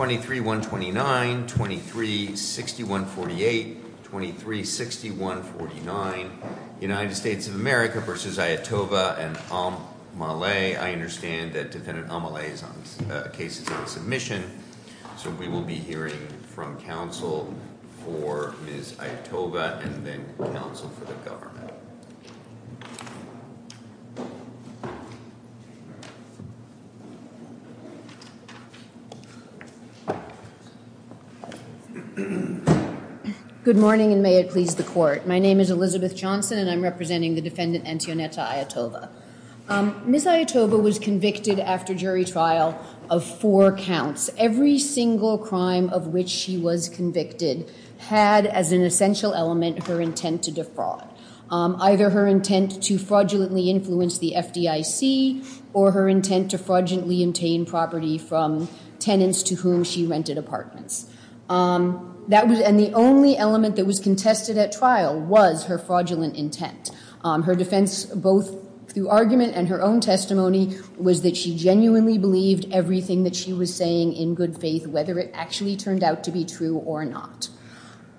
23-129, 23-6148, 23-6149, United States of America v. Ayatollah and Almaleh. I understand that Defendant Almaleh's case is on submission, so we will be hearing from counsel for Ms. Ayatollah and then counsel for the government. Good morning and may it please the court. My name is Elizabeth Johnson and I'm representing the Defendant Antionetta Ayatollah. Ms. Ayatollah was convicted after jury trial of four counts. Every single crime of which she was convicted had as an essential element her intent to defraud. Either her intent to fraudulently influence the FDIC or her intent to fraudulently obtain property from tenants to whom she rented apartments. And the only element that was contested at trial was her fraudulent intent. Her defense, both through argument and her own testimony, was that she genuinely believed everything that she was saying in good faith, whether it actually turned out to be true or not.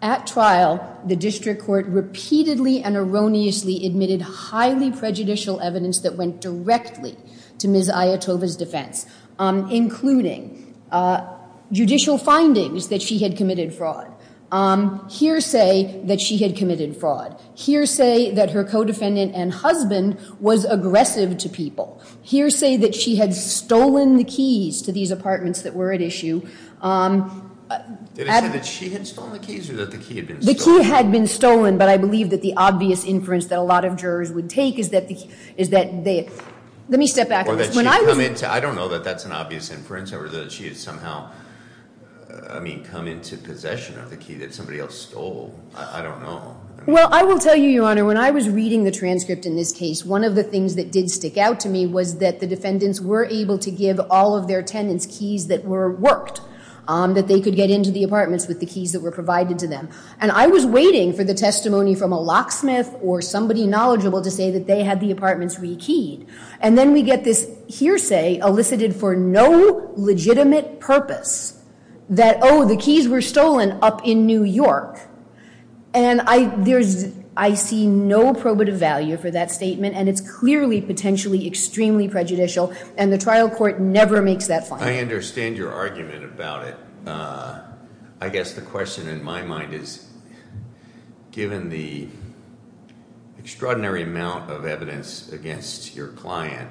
At trial, the district court repeatedly and erroneously admitted highly prejudicial evidence that went directly to Ms. Ayatollah's defense, including judicial findings that she had committed fraud, hearsay that she had committed fraud, hearsay that her co-defendant and husband was aggressive to people, hearsay that she had stolen the keys to these apartments that were at issue. Did it say that she had stolen the keys or that the key had been stolen? The key had been stolen, but I believe that the obvious inference that a lot of jurors would take is that they, let me step back. Or that she had come into, I don't know that that's an obvious inference or that she had somehow, I mean, come into possession of the key that somebody else stole. I don't know. Well, I will tell you, Your Honor, when I was reading the transcript in this case, one of the things that did stick out to me was that the defendants were able to give all of their tenants keys that were worked, that they could get into the apartments with the keys that were provided to them. And I was waiting for the testimony from a locksmith or somebody knowledgeable to say that they had the apartments re-keyed. And then we get this hearsay elicited for no legitimate purpose that, oh, the keys were stolen up in New York. And I see no probative value for that statement, and it's clearly potentially extremely prejudicial, and the trial court never makes that finding. I understand your argument about it. I guess the question in my mind is, given the extraordinary amount of evidence against your client,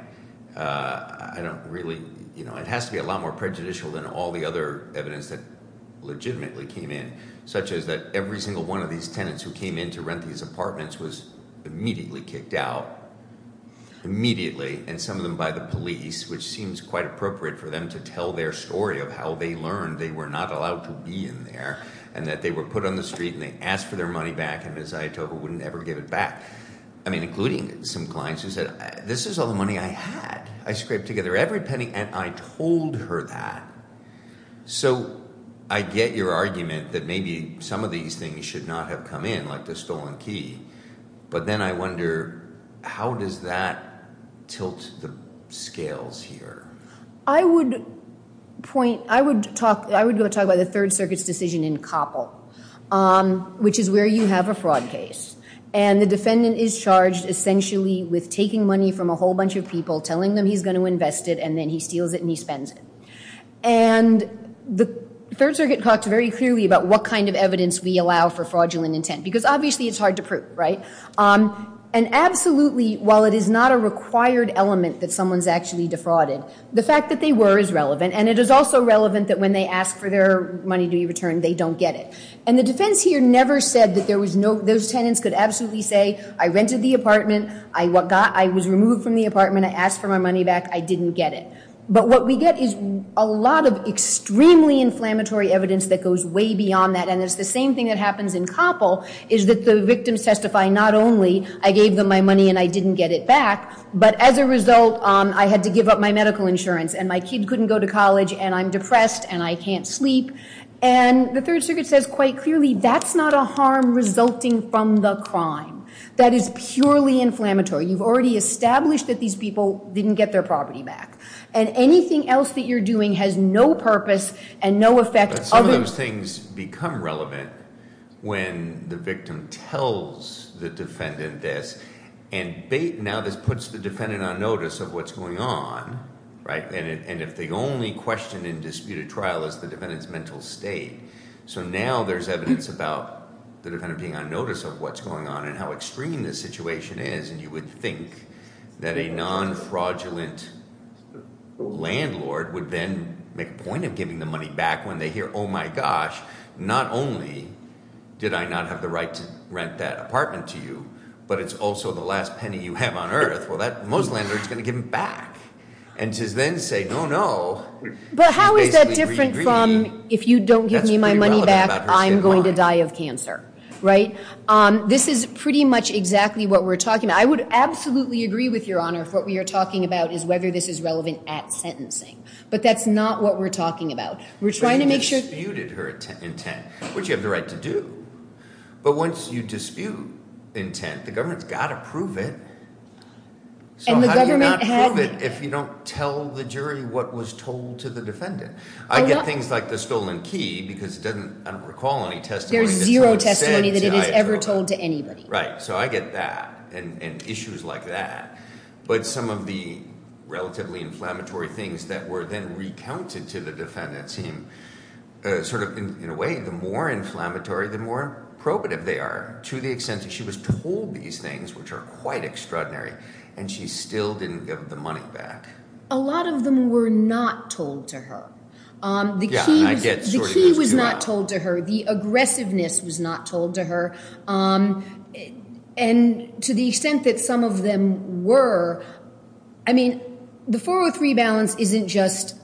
I don't really, you know, it has to be a lot more prejudicial than all the other evidence that legitimately came in, such as that every single one of these tenants who came in to rent these apartments was immediately kicked out, immediately, and some of them by the police, which seems quite appropriate for them to tell their story of how they learned they were not allowed to be in there and that they were put on the street and they asked for their money back, and Ms. Ayatollah wouldn't ever give it back. I mean, including some clients who said, this is all the money I had. I scraped together every penny, and I told her that. So I get your argument that maybe some of these things should not have come in, like the stolen key, but then I wonder, how does that tilt the scales here? I would point, I would talk, I would go talk about the Third Circuit's decision in Koppel, which is where you have a fraud case, and the defendant is charged essentially with taking money from a whole bunch of people, telling them he's going to invest it, and then he steals it and he spends it. And the Third Circuit talked very clearly about what kind of evidence we allow for fraudulent intent, because obviously it's hard to prove, right? And absolutely, while it is not a required element that someone's actually defrauded, the fact that they were is relevant, and it is also relevant that when they ask for their money to be returned, they don't get it. And the defense here never said that there was no, those tenants could absolutely say, I rented the apartment, I was removed from the apartment, I asked for my money back, I didn't get it. But what we get is a lot of extremely inflammatory evidence that goes way beyond that, and it's the same thing that happens in Koppel, is that the victims testify not only, I gave them my money and I didn't get it back, but as a result, I had to give up my medical insurance, and my kid couldn't go to college, and I'm depressed, and I can't sleep. And the Third Circuit says quite clearly that's not a harm resulting from the crime. That is purely inflammatory. You've already established that these people didn't get their property back. And anything else that you're doing has no purpose and no effect. But some of those things become relevant when the victim tells the defendant this, and now this puts the defendant on notice of what's going on, right? And if the only question in disputed trial is the defendant's mental state, so now there's evidence about the defendant being on notice of what's going on and how extreme this situation is, and you would think that a non-fraudulent landlord would then make a point of giving the money back when they hear, oh my gosh, not only did I not have the right to rent that apartment to you, but it's also the last penny you have on earth. Well, that most landlord is going to give it back and to then say, no, no. But how is that different from if you don't give me my money back, I'm going to die of cancer, right? This is pretty much exactly what we're talking about. I would absolutely agree with Your Honor if what we are talking about is whether this is relevant at sentencing, but that's not what we're talking about. We're trying to make sure. But you disputed her intent, which you have the right to do. But once you dispute intent, the government's got to prove it. So how do you not prove it if you don't tell the jury what was told to the defendant? I get things like the stolen key because it doesn't, I don't recall any testimony. There's zero testimony that it is ever told to anybody. Right. So I get that and issues like that. But some of the relatively inflammatory things that were then recounted to the defendant seem sort of, in a way, the more inflammatory, the more probative they are to the extent that she was told these things, which are quite extraordinary, and she still didn't give the money back. A lot of them were not told to her. The key was not told to her. The aggressiveness was not told to her. And to the extent that some of them were, I mean, the 403 balance isn't just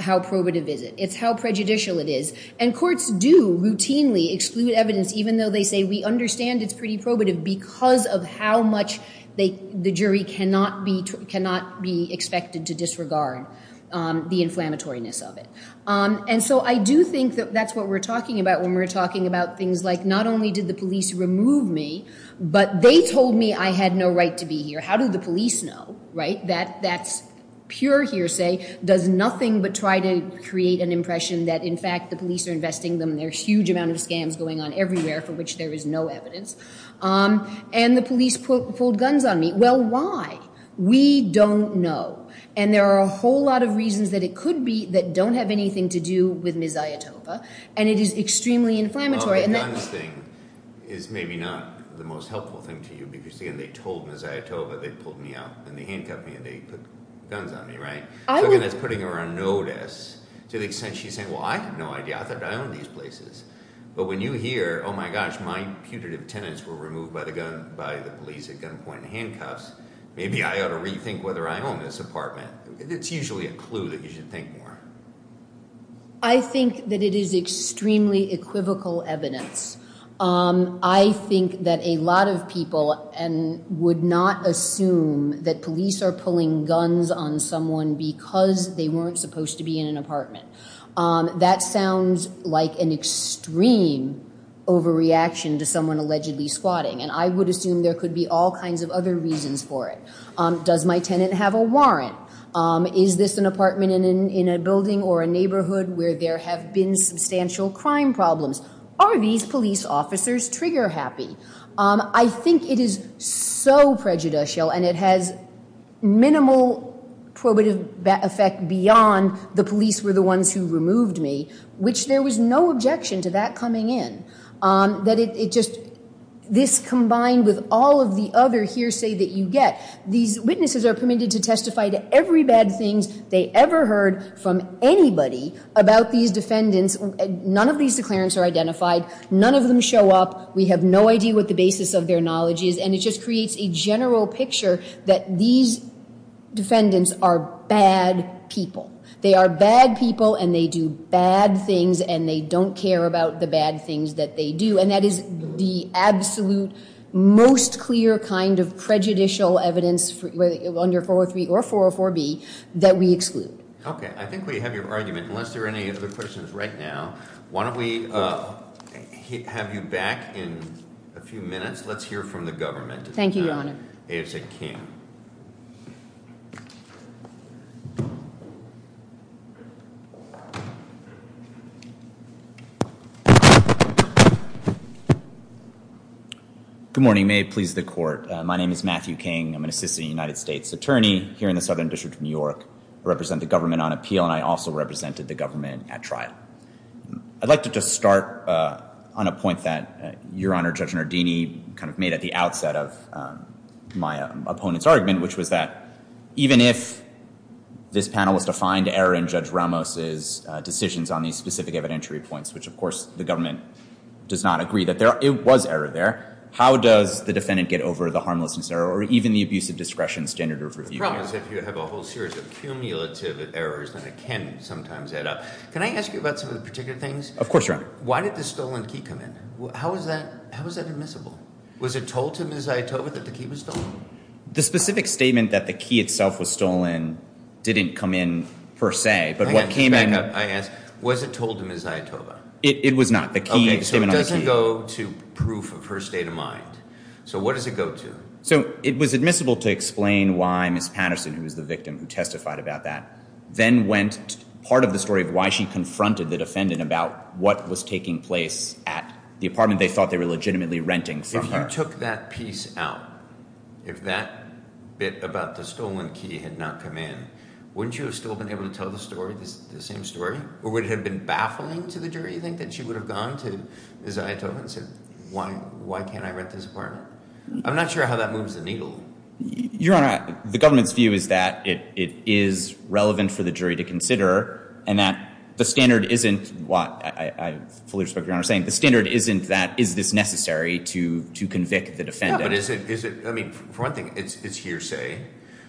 how probative it is. It's how prejudicial it is. And courts do routinely exclude evidence, even though they say we understand it's pretty probative, because of how much the jury cannot be expected to disregard the inflammatoryness of it. And so I do think that that's what we're talking about when we're talking about things like, not only did the police remove me, but they told me I had no right to be here. How do the police know, right, that that's pure hearsay, does nothing but try to create an impression that, in fact, the police are investing them. There are a huge amount of scams going on everywhere for which there is no evidence. And the police pulled guns on me. Well, why? We don't know. And there are a whole lot of reasons that it could be that don't have anything to do with Ms. Ayatova, and it is extremely inflammatory. Well, the guns thing is maybe not the most helpful thing to you, because, again, they told Ms. Ayatova they pulled me out, and they handcuffed me, and they put guns on me, right? So, again, that's putting her on notice to the extent she's saying, well, I have no idea. I thought I owned these places. But when you hear, oh, my gosh, my putative tenants were removed by the police at gunpoint and handcuffs, maybe I ought to rethink whether I own this apartment. It's usually a clue that you should think more. I think that it is extremely equivocal evidence. I think that a lot of people would not assume that police are pulling guns on someone because they weren't supposed to be in an apartment. That sounds like an extreme overreaction to someone allegedly squatting, and I would assume there could be all kinds of other reasons for it. Does my tenant have a warrant? Is this an apartment in a building or a neighborhood where there have been substantial crime problems? Are these police officers trigger-happy? I think it is so prejudicial, and it has minimal probative effect beyond the police were the ones who removed me, which there was no objection to that coming in. This combined with all of the other hearsay that you get, these witnesses are permitted to testify to every bad thing they ever heard from anybody about these defendants. None of these declarants are identified. None of them show up. We have no idea what the basis of their knowledge is, and it just creates a general picture that these defendants are bad people. They are bad people, and they do bad things, and they don't care about the bad things that they do, and that is the absolute most clear kind of prejudicial evidence under 403 or 404B that we exclude. Okay. I think we have your argument. Unless there are any other questions right now, why don't we have you back in a few minutes. Let's hear from the government. Thank you, Your Honor. A.J. King. Good morning. May it please the Court. My name is Matthew King. I'm an assistant United States attorney here in the Southern District of New York. I represent the government on appeal, and I also represented the government at trial. I'd like to just start on a point that Your Honor Judge Nardini kind of made at the outset of my opponent's argument, which was that even if this panel was to find error in Judge Ramos's decisions on these specific evidentiary points, which, of course, the government does not agree that it was error there, how does the defendant get over the harmlessness error or even the abuse of discretion standard of review? The problem is if you have a whole series of cumulative errors, then it can sometimes add up. Can I ask you about some of the particular things? Of course, Your Honor. Why did the stolen key come in? How is that admissible? Was it told to Ms. Zaitova that the key was stolen? The specific statement that the key itself was stolen didn't come in per se, but what came in – I ask, was it told to Ms. Zaitova? It was not. The key was given on the key. Okay. So it doesn't go to proof of her state of mind. So what does it go to? So it was admissible to explain why Ms. Patterson, who was the victim who testified about that, then went – part of the story of why she confronted the defendant about what was taking place at the apartment they thought they were legitimately renting from her. If you took that piece out, if that bit about the stolen key had not come in, wouldn't you have still been able to tell the story, the same story? Or would it have been baffling to the jury, you think, that she would have gone to Ms. Zaitova and said, why can't I rent this apartment? I'm not sure how that moves the needle. Your Honor, the government's view is that it is relevant for the jury to consider and that the standard isn't what – I fully respect what Your Honor is saying – the standard isn't that is this necessary to convict the defendant. Yeah, but is it – I mean, for one thing, it's hearsay,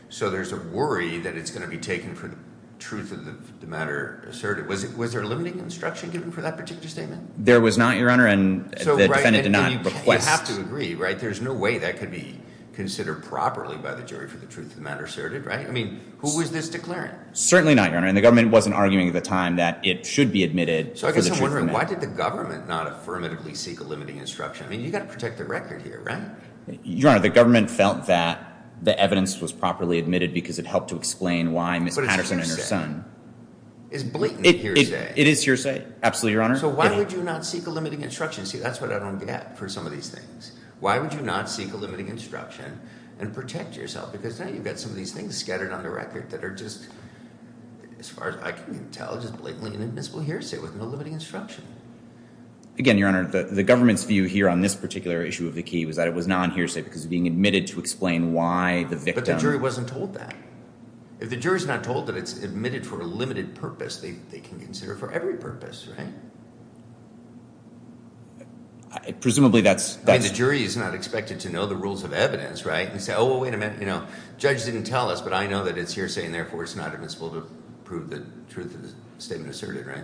so there's a worry that it's going to be taken for the truth of the matter asserted. Was there a limiting instruction given for that particular statement? There was not, Your Honor, and the defendant did not request – You have to agree, right? There's no way that could be considered properly by the jury for the truth of the matter asserted, right? I mean, who was this declaring? Certainly not, Your Honor, and the government wasn't arguing at the time that it should be admitted for the truth of the matter. So I guess I'm wondering, why did the government not affirmatively seek a limiting instruction? I mean, you've got to protect the record here, right? Your Honor, the government felt that the evidence was properly admitted because it helped to explain why Ms. Patterson and her son – But it's hearsay. It's blatant hearsay. It is hearsay, absolutely, Your Honor. So why would you not seek a limiting instruction? See, that's what I don't get for some of these things. Why would you not seek a limiting instruction and protect yourself? Because now you've got some of these things scattered on the record that are just – as far as I can tell, just blatantly inadmissible hearsay with no limiting instruction. Again, Your Honor, the government's view here on this particular issue of the key was that it was non-hearsay because it was being admitted to explain why the victim – But the jury wasn't told that. If the jury's not told that it's admitted for a limited purpose, they can consider it for every purpose, right? Presumably that's – I mean, the jury is not expected to know the rules of evidence, right? And say, oh, wait a minute, you know, judge didn't tell us, but I know that it's hearsay and therefore it's not admissible to prove the truth of the statement asserted, right?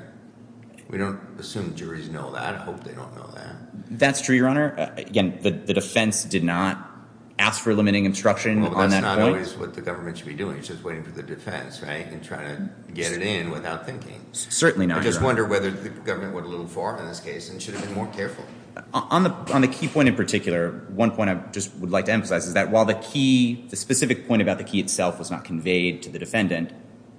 We don't assume juries know that. I hope they don't know that. That's true, Your Honor. Again, the defense did not ask for a limiting instruction on that note. That's not always what the government should be doing. It's just waiting for the defense, right, and trying to get it in without thinking. Certainly not, Your Honor. I just wonder whether the government went a little far in this case and should have been more careful. On the key point in particular, one point I just would like to emphasize is that while the key – the specific point about the key itself was not conveyed to the defendant,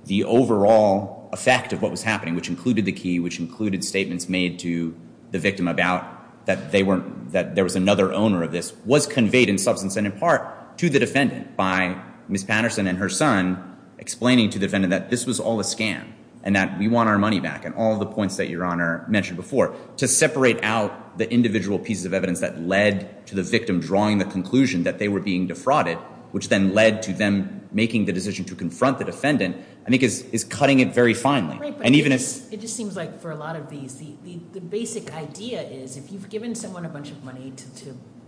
the overall effect of what was happening, which included the key, which included statements made to the victim about that they weren't – that there was another owner of this, was conveyed in substance and in part to the defendant by Ms. Patterson and her son explaining to the defendant that this was all a scam and that we want our money back and all the points that Your Honor mentioned before. To separate out the individual pieces of evidence that led to the victim drawing the conclusion that they were being defrauded, which then led to them making the decision to confront the defendant, I think is cutting it very finely. Right, but it just seems like for a lot of these, the basic idea is if you've given someone a bunch of money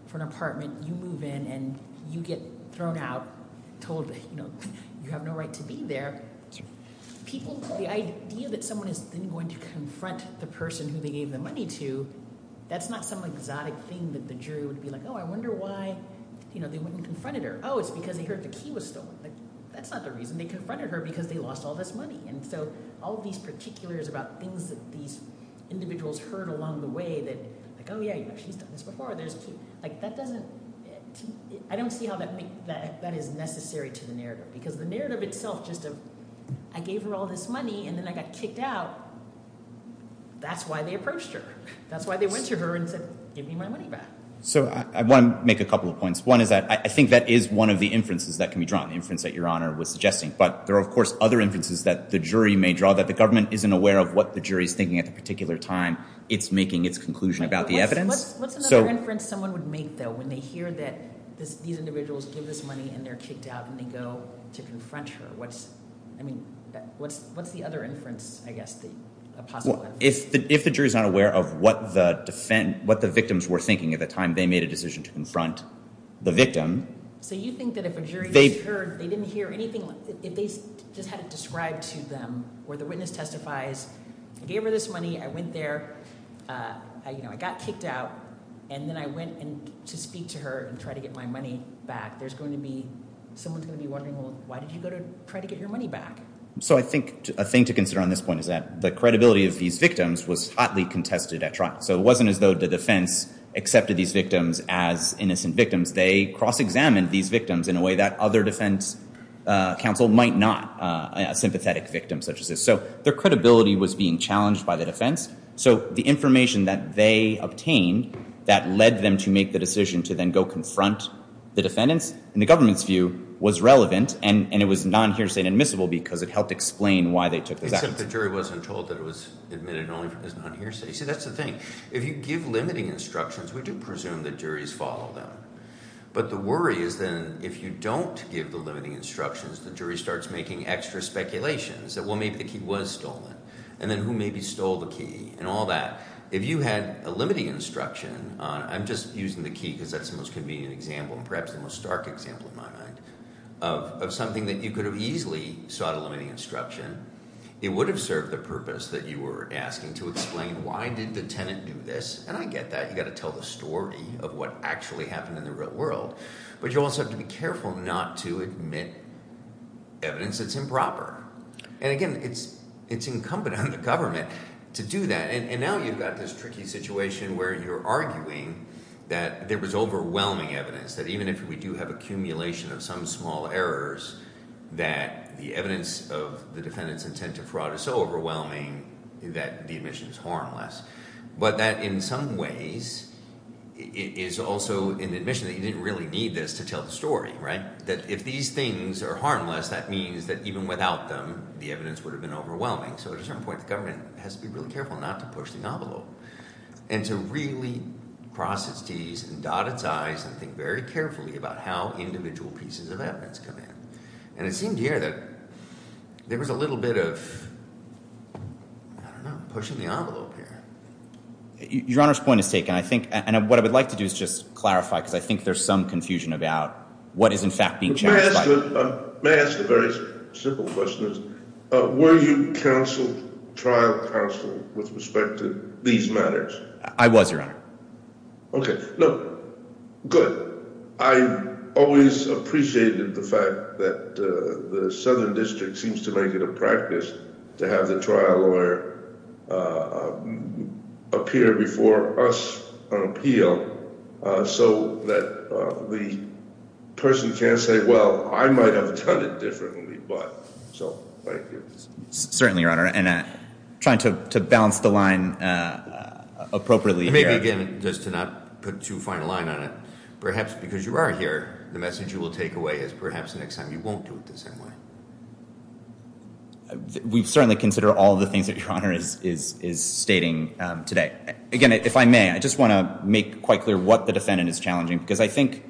for an apartment, you move in, and you get thrown out, told you have no right to be there, people – the idea that someone is then going to confront the person who they gave the money to, that's not some exotic thing that the jury would be like, oh, I wonder why they wouldn't have confronted her. Oh, it's because they heard the key was stolen. That's not the reason they confronted her because they lost all this money. And so all of these particulars about things that these individuals heard along the way that, oh, yeah, she's done this before. That doesn't – I don't see how that is necessary to the narrative because the narrative itself just of I gave her all this money, and then I got kicked out, that's why they approached her. That's why they went to her and said, give me my money back. So I want to make a couple of points. One is that I think that is one of the inferences that can be drawn, the inference that Your Honor was suggesting. But there are, of course, other inferences that the jury may draw that the government isn't aware of what the jury is thinking at the particular time it's making its conclusion about the evidence. What's another inference someone would make, though, when they hear that these individuals give this money and they're kicked out and they go to confront her? I mean, what's the other inference, I guess, a possible inference? If the jury is not aware of what the victims were thinking at the time they made a decision to confront the victim. So you think that if a jury just heard, they didn't hear anything, if they just had it described to them where the witness testifies, I gave her this money, I went there, I got kicked out, and then I went to speak to her and try to get my money back, someone's going to be wondering, well, why did you go to try to get your money back? So I think a thing to consider on this point is that the credibility of these victims was hotly contested at trial. So it wasn't as though the defense accepted these victims as innocent victims. They cross-examined these victims in a way that other defense counsel might not, a sympathetic victim such as this. So their credibility was being challenged by the defense. So the information that they obtained that led them to make the decision to then go confront the defendants, in the government's view, was relevant, and it was non-hearsay and admissible because it helped explain why they took those actions. Except the jury wasn't told that it was admitted only as non-hearsay. See, that's the thing. If you give limiting instructions, we do presume that juries follow them. But the worry is then if you don't give the limiting instructions, the jury starts making extra speculations, that, well, maybe the key was stolen, and then who maybe stole the key and all that. If you had a limiting instruction on, I'm just using the key because that's the most convenient example and perhaps the most stark example in my mind, of something that you could have easily sought a limiting instruction, it would have served the purpose that you were asking to explain why did the tenant do this. And I get that. You've got to tell the story of what actually happened in the real world. But you also have to be careful not to admit evidence that's improper. And, again, it's incumbent on the government to do that. And now you've got this tricky situation where you're arguing that there was overwhelming evidence, that even if we do have accumulation of some small errors, that the evidence of the defendant's intent to fraud is so overwhelming that the admission is harmless. But that in some ways is also an admission that you didn't really need this to tell the story, right? That if these things are harmless, that means that even without them, the evidence would have been overwhelming. So at a certain point, the government has to be really careful not to push the envelope and to really cross its T's and dot its I's and think very carefully about how individual pieces of evidence come in. And it seemed here that there was a little bit of, I don't know, pushing the envelope here. Your Honor's point is taken. I think – and what I would like to do is just clarify because I think there's some confusion about what is in fact being challenged. May I ask a very simple question? Were you trial counsel with respect to these matters? I was, Your Honor. Okay. Good. I always appreciated the fact that the Southern District seems to make it a practice to have the trial lawyer appear before us on appeal so that the person can say, well, I might have done it differently, but – so thank you. Certainly, Your Honor. And I'm trying to balance the line appropriately here. Maybe again, just to not put too fine a line on it, perhaps because you are here, the message you will take away is perhaps next time you won't do it the same way. We certainly consider all the things that Your Honor is stating today. Again, if I may, I just want to make quite clear what the defendant is challenging because I think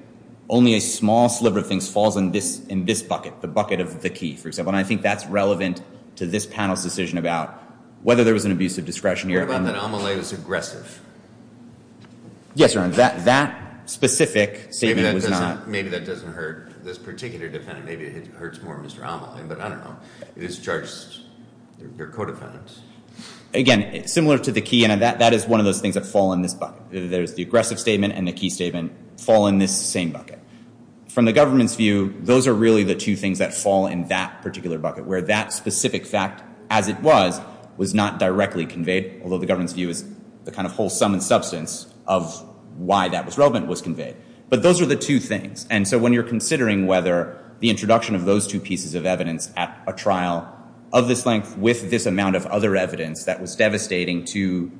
only a small sliver of things falls in this bucket, the bucket of the key, for example, and I think that's relevant to this panel's decision about whether there was an abuse of discretion here. What about that Amelie was aggressive? Yes, Your Honor. That specific statement was not – Maybe that doesn't hurt this particular defendant. Maybe it hurts more Mr. Amelie, but I don't know. It is charged – they're co-defendants. Again, similar to the key, that is one of those things that fall in this bucket. There's the aggressive statement and the key statement fall in this same bucket. From the government's view, those are really the two things that fall in that particular bucket where that specific fact, as it was, was not directly conveyed, although the government's view is the kind of whole sum and substance of why that was relevant was conveyed. But those are the two things, and so when you're considering whether the introduction of those two pieces of evidence at a trial of this length with this amount of other evidence that was devastating to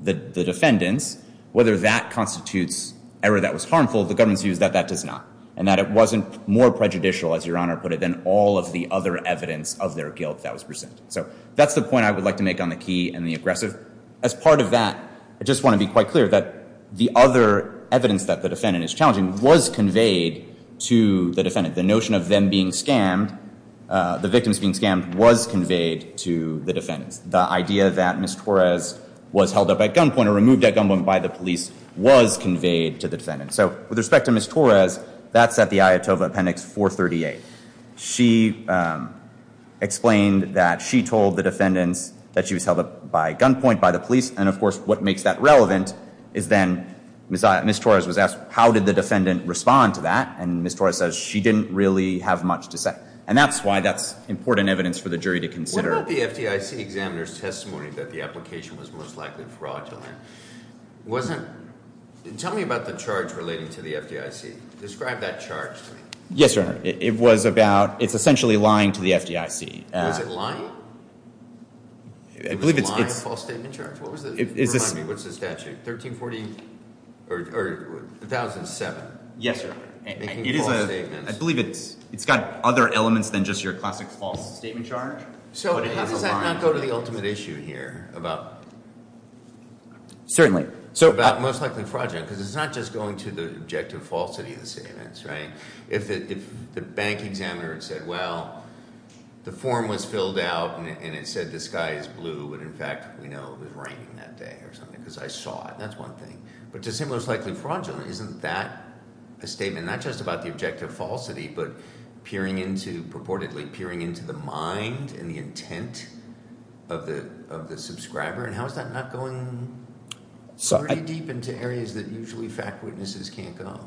the defendants, whether that constitutes error that was harmful, the government's view is that that does not and that it wasn't more prejudicial, as Your Honor put it, than all of the other evidence of their guilt that was presented. So that's the point I would like to make on the key and the aggressive. As part of that, I just want to be quite clear that the other evidence that the defendant is challenging was conveyed to the defendant. The notion of them being scammed, the victims being scammed, was conveyed to the defendants. The idea that Ms. Torres was held up at gunpoint or removed at gunpoint by the police was conveyed to the defendants. So with respect to Ms. Torres, that's at the IATOVA Appendix 438. She explained that she told the defendants that she was held up by gunpoint by the police, and, of course, what makes that relevant is then Ms. Torres was asked, how did the defendant respond to that? And Ms. Torres says she didn't really have much to say. And that's why that's important evidence for the jury to consider. What about the FDIC examiner's testimony that the application was most likely fraudulent? Tell me about the charge relating to the FDIC. Describe that charge to me. Yes, Your Honor. It's essentially lying to the FDIC. Was it lying? It was a lying false statement charge? What was the statute? 1340 or 1007? Yes, Your Honor. Making false statements. I believe it's got other elements than just your classic false statement charge. So how does that not go to the ultimate issue here about most likely fraudulent? Because it's not just going to the objective falsity of the statements, right? If the bank examiner had said, well, the form was filled out and it said the sky is blue, but in fact we know it was raining that day or something because I saw it, that's one thing. But to say most likely fraudulent, isn't that a statement not just about the objective falsity but peering into, purportedly peering into the mind and the intent of the subscriber? And how is that not going pretty deep into areas that usually fact witnesses can't go?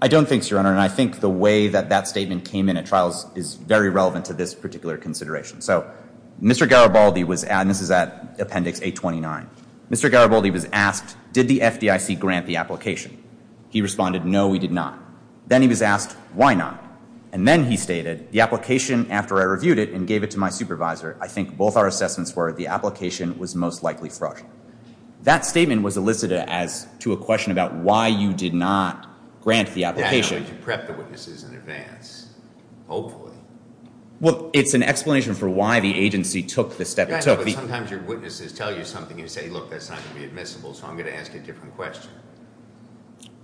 I don't think so, Your Honor, and I think the way that that statement came in at trials is very relevant to this particular consideration. So Mr. Garibaldi was at, and this is at Appendix 829, Mr. Garibaldi was asked, did the FDIC grant the application? He responded, no, we did not. Then he was asked, why not? And then he stated, the application, after I reviewed it and gave it to my supervisor, I think both our assessments were the application was most likely fraudulent. That statement was elicited as to a question about why you did not grant the application. You prepped the witnesses in advance, hopefully. Well, it's an explanation for why the agency took the step. Sometimes your witnesses tell you something and you say, look, that's not going to be admissible, so I'm going to ask you a different question.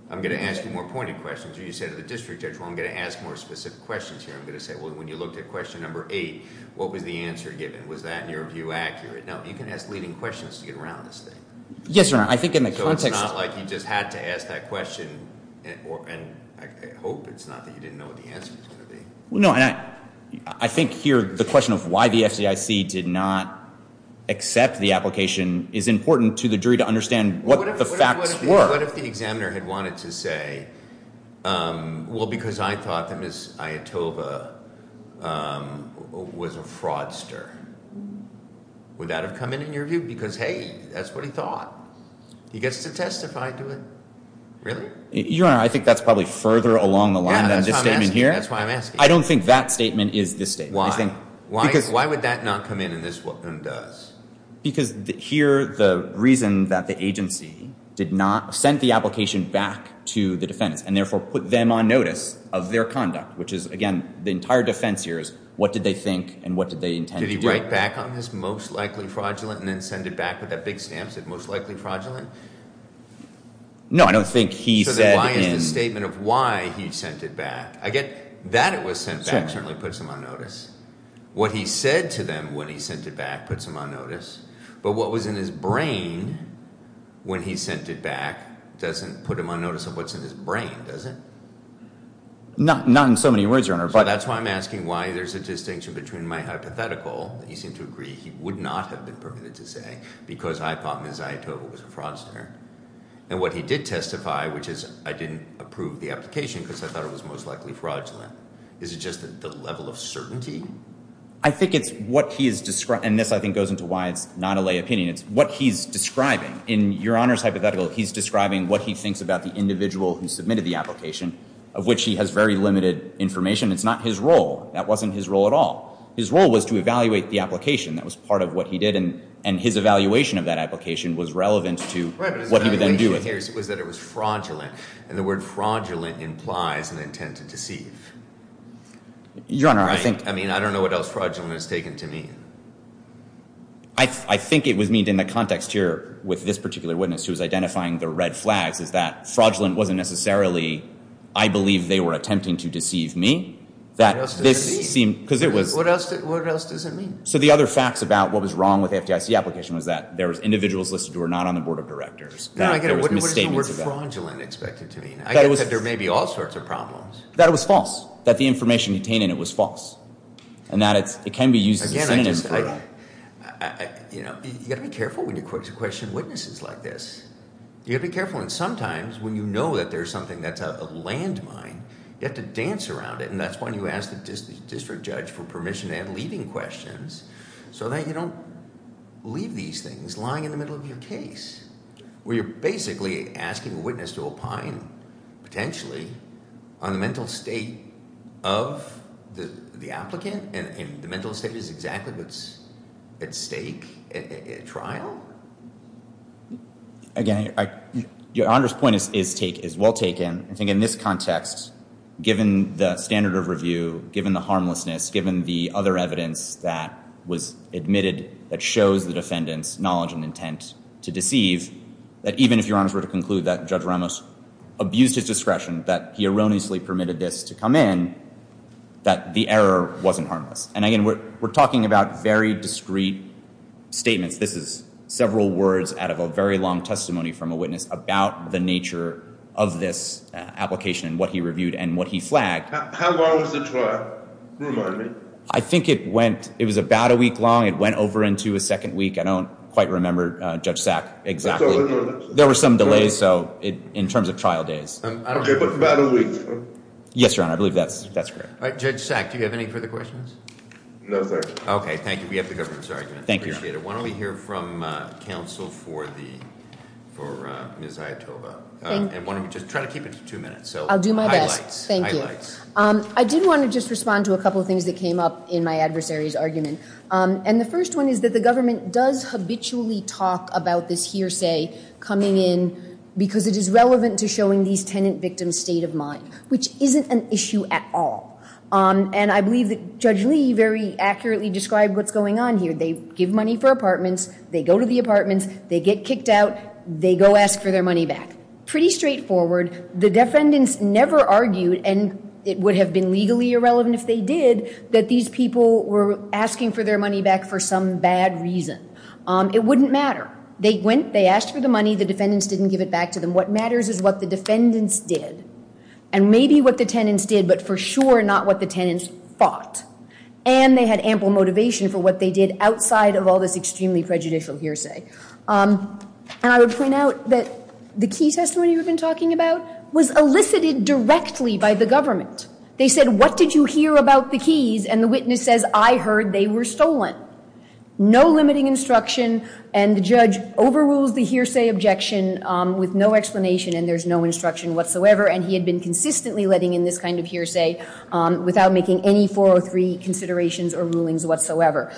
I'm going to ask you more pointed questions. You said to the district judge, well, I'm going to ask more specific questions here. I'm going to say, well, when you looked at question number eight, what was the answer given? Was that, in your view, accurate? Now, you can ask leading questions to get around this thing. Yes, Your Honor, I think in the context. So it's not like you just had to ask that question, and I hope it's not that you didn't know what the answer was going to be. No, and I think here the question of why the FDIC did not accept the application is important to the jury to understand what the facts were. What if the examiner had wanted to say, well, because I thought that Ms. Ayatova was a fraudster? Would that have come in, in your view? Because, hey, that's what he thought. He gets to testify to it. Really? Your Honor, I think that's probably further along the line than this statement here. That's why I'm asking. I don't think that statement is this statement. Why? Why would that not come in and this one doesn't? Because here the reason that the agency did not send the application back to the defense and therefore put them on notice of their conduct, which is, again, the entire defense here is what did they think and what did they intend to do? Did he write back on this, most likely fraudulent, and then send it back with that big stamp, said most likely fraudulent? No, I don't think he said. So then why is the statement of why he sent it back? I get that it was sent back certainly puts him on notice. What he said to them when he sent it back puts him on notice. But what was in his brain when he sent it back doesn't put him on notice of what's in his brain, does it? Not in so many words, Your Honor. So that's why I'm asking why there's a distinction between my hypothetical that you seem to agree he would not have been permitted to say because I thought Ms. Zaitova was a fraudster, and what he did testify, which is I didn't approve the application because I thought it was most likely fraudulent. Is it just the level of certainty? I think it's what he has described, and this, I think, goes into why it's not a lay opinion. It's what he's describing. In Your Honor's hypothetical, he's describing what he thinks about the individual who submitted the application, of which he has very limited information. It's not his role. That wasn't his role at all. His role was to evaluate the application. That was part of what he did, and his evaluation of that application was relevant to what he would then do with it. What I didn't hear was that it was fraudulent, and the word fraudulent implies an intent to deceive. Your Honor, I think— I mean, I don't know what else fraudulent is taken to mean. I think it was meant in the context here with this particular witness, who was identifying the red flags, is that fraudulent wasn't necessarily I believe they were attempting to deceive me. What else does it mean? Because it was— What else does it mean? So the other facts about what was wrong with the FDIC application was that there was individuals listed who were not on the board of directors. No, I get it. What is the word fraudulent expected to mean? I get that there may be all sorts of problems. That it was false, that the information contained in it was false, and that it can be used as a synonym. Again, I just—you've got to be careful when you question witnesses like this. You've got to be careful, and sometimes when you know that there's something that's a landmine, you have to dance around it, and that's when you ask the district judge for permission to end leading questions so that you don't leave these things lying in the middle of your case, where you're basically asking a witness to opine potentially on the mental state of the applicant, and the mental state is exactly what's at stake at trial. Again, Your Honor's point is well taken. I think in this context, given the standard of review, given the harmlessness, given the other evidence that was admitted that shows the defendant's knowledge and intent to deceive, that even if Your Honor were to conclude that Judge Ramos abused his discretion, that he erroneously permitted this to come in, that the error wasn't harmless. And again, we're talking about very discreet statements. This is several words out of a very long testimony from a witness about the nature of this application and what he reviewed and what he flagged. How long was the trial, remind me? I think it went—it was about a week long. It went over into a second week. I don't quite remember, Judge Sack, exactly. There were some delays, so in terms of trial days. Okay, but about a week. Yes, Your Honor, I believe that's correct. All right, Judge Sack, do you have any further questions? No, sir. Okay, thank you. We have the government's argument. Thank you, Your Honor. I appreciate it. Why don't we hear from counsel for Ms. Ayatova? Thank you. And why don't we just try to keep it to two minutes. I'll do my best. Highlights. Thank you. I did want to just respond to a couple of things that came up in my adversary's argument. And the first one is that the government does habitually talk about this hearsay coming in because it is relevant to showing these tenant victims' state of mind, which isn't an issue at all. And I believe that Judge Lee very accurately described what's going on here. They give money for apartments. They go to the apartments. They get kicked out. They go ask for their money back. Pretty straightforward. The defendants never argued, and it would have been legally irrelevant if they did, that these people were asking for their money back for some bad reason. It wouldn't matter. They went. They asked for the money. The defendants didn't give it back to them. What matters is what the defendants did. And maybe what the tenants did, but for sure not what the tenants thought. And they had ample motivation for what they did outside of all this extremely prejudicial hearsay. And I would point out that the key testimony we've been talking about was elicited directly by the government. They said, what did you hear about the keys? And the witness says, I heard they were stolen. No limiting instruction, and the judge overrules the hearsay objection with no explanation, and there's no instruction whatsoever. And he had been consistently letting in this kind of hearsay without making any 403 considerations or rulings whatsoever.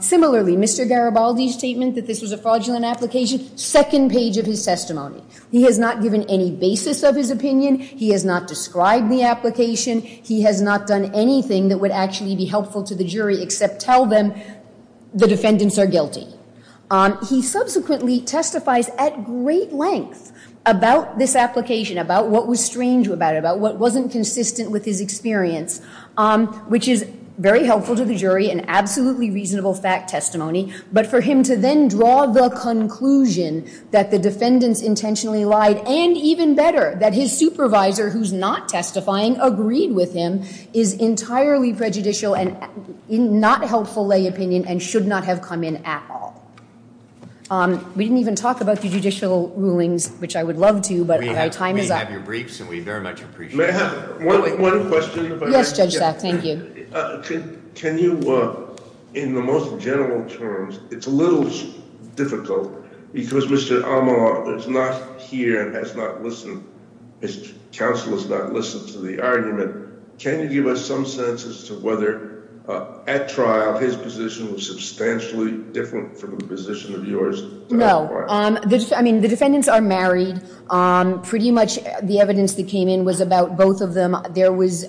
Similarly, Mr. Garibaldi's statement that this was a fraudulent application, second page of his testimony. He has not given any basis of his opinion. He has not described the application. He has not done anything that would actually be helpful to the jury except tell them the defendants are guilty. He subsequently testifies at great length about this application, about what was strange about it, about what wasn't consistent with his experience, which is very helpful to the jury, an absolutely reasonable fact testimony. But for him to then draw the conclusion that the defendants intentionally lied, and even better, that his supervisor, who's not testifying, agreed with him, is entirely prejudicial and not helpful lay opinion and should not have come in at all. We didn't even talk about the judicial rulings, which I would love to, but my time is up. We have your briefs, and we very much appreciate them. May I have one question, if I may? Yes, Judge Sack, thank you. Can you, in the most general terms, it's a little difficult because Mr. Amar is not here and has not listened, his counsel has not listened to the argument. Can you give us some sense as to whether at trial his position was substantially different from the position of yours? I mean, the defendants are married. Pretty much the evidence that came in was about both of them. There was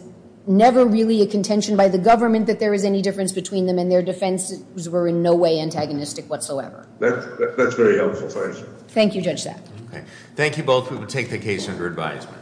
never really a contention by the government that there was any difference between them, and their defenses were in no way antagonistic whatsoever. That's very helpful. Thank you, Judge Sack. Thank you both. We will take the case under advisement.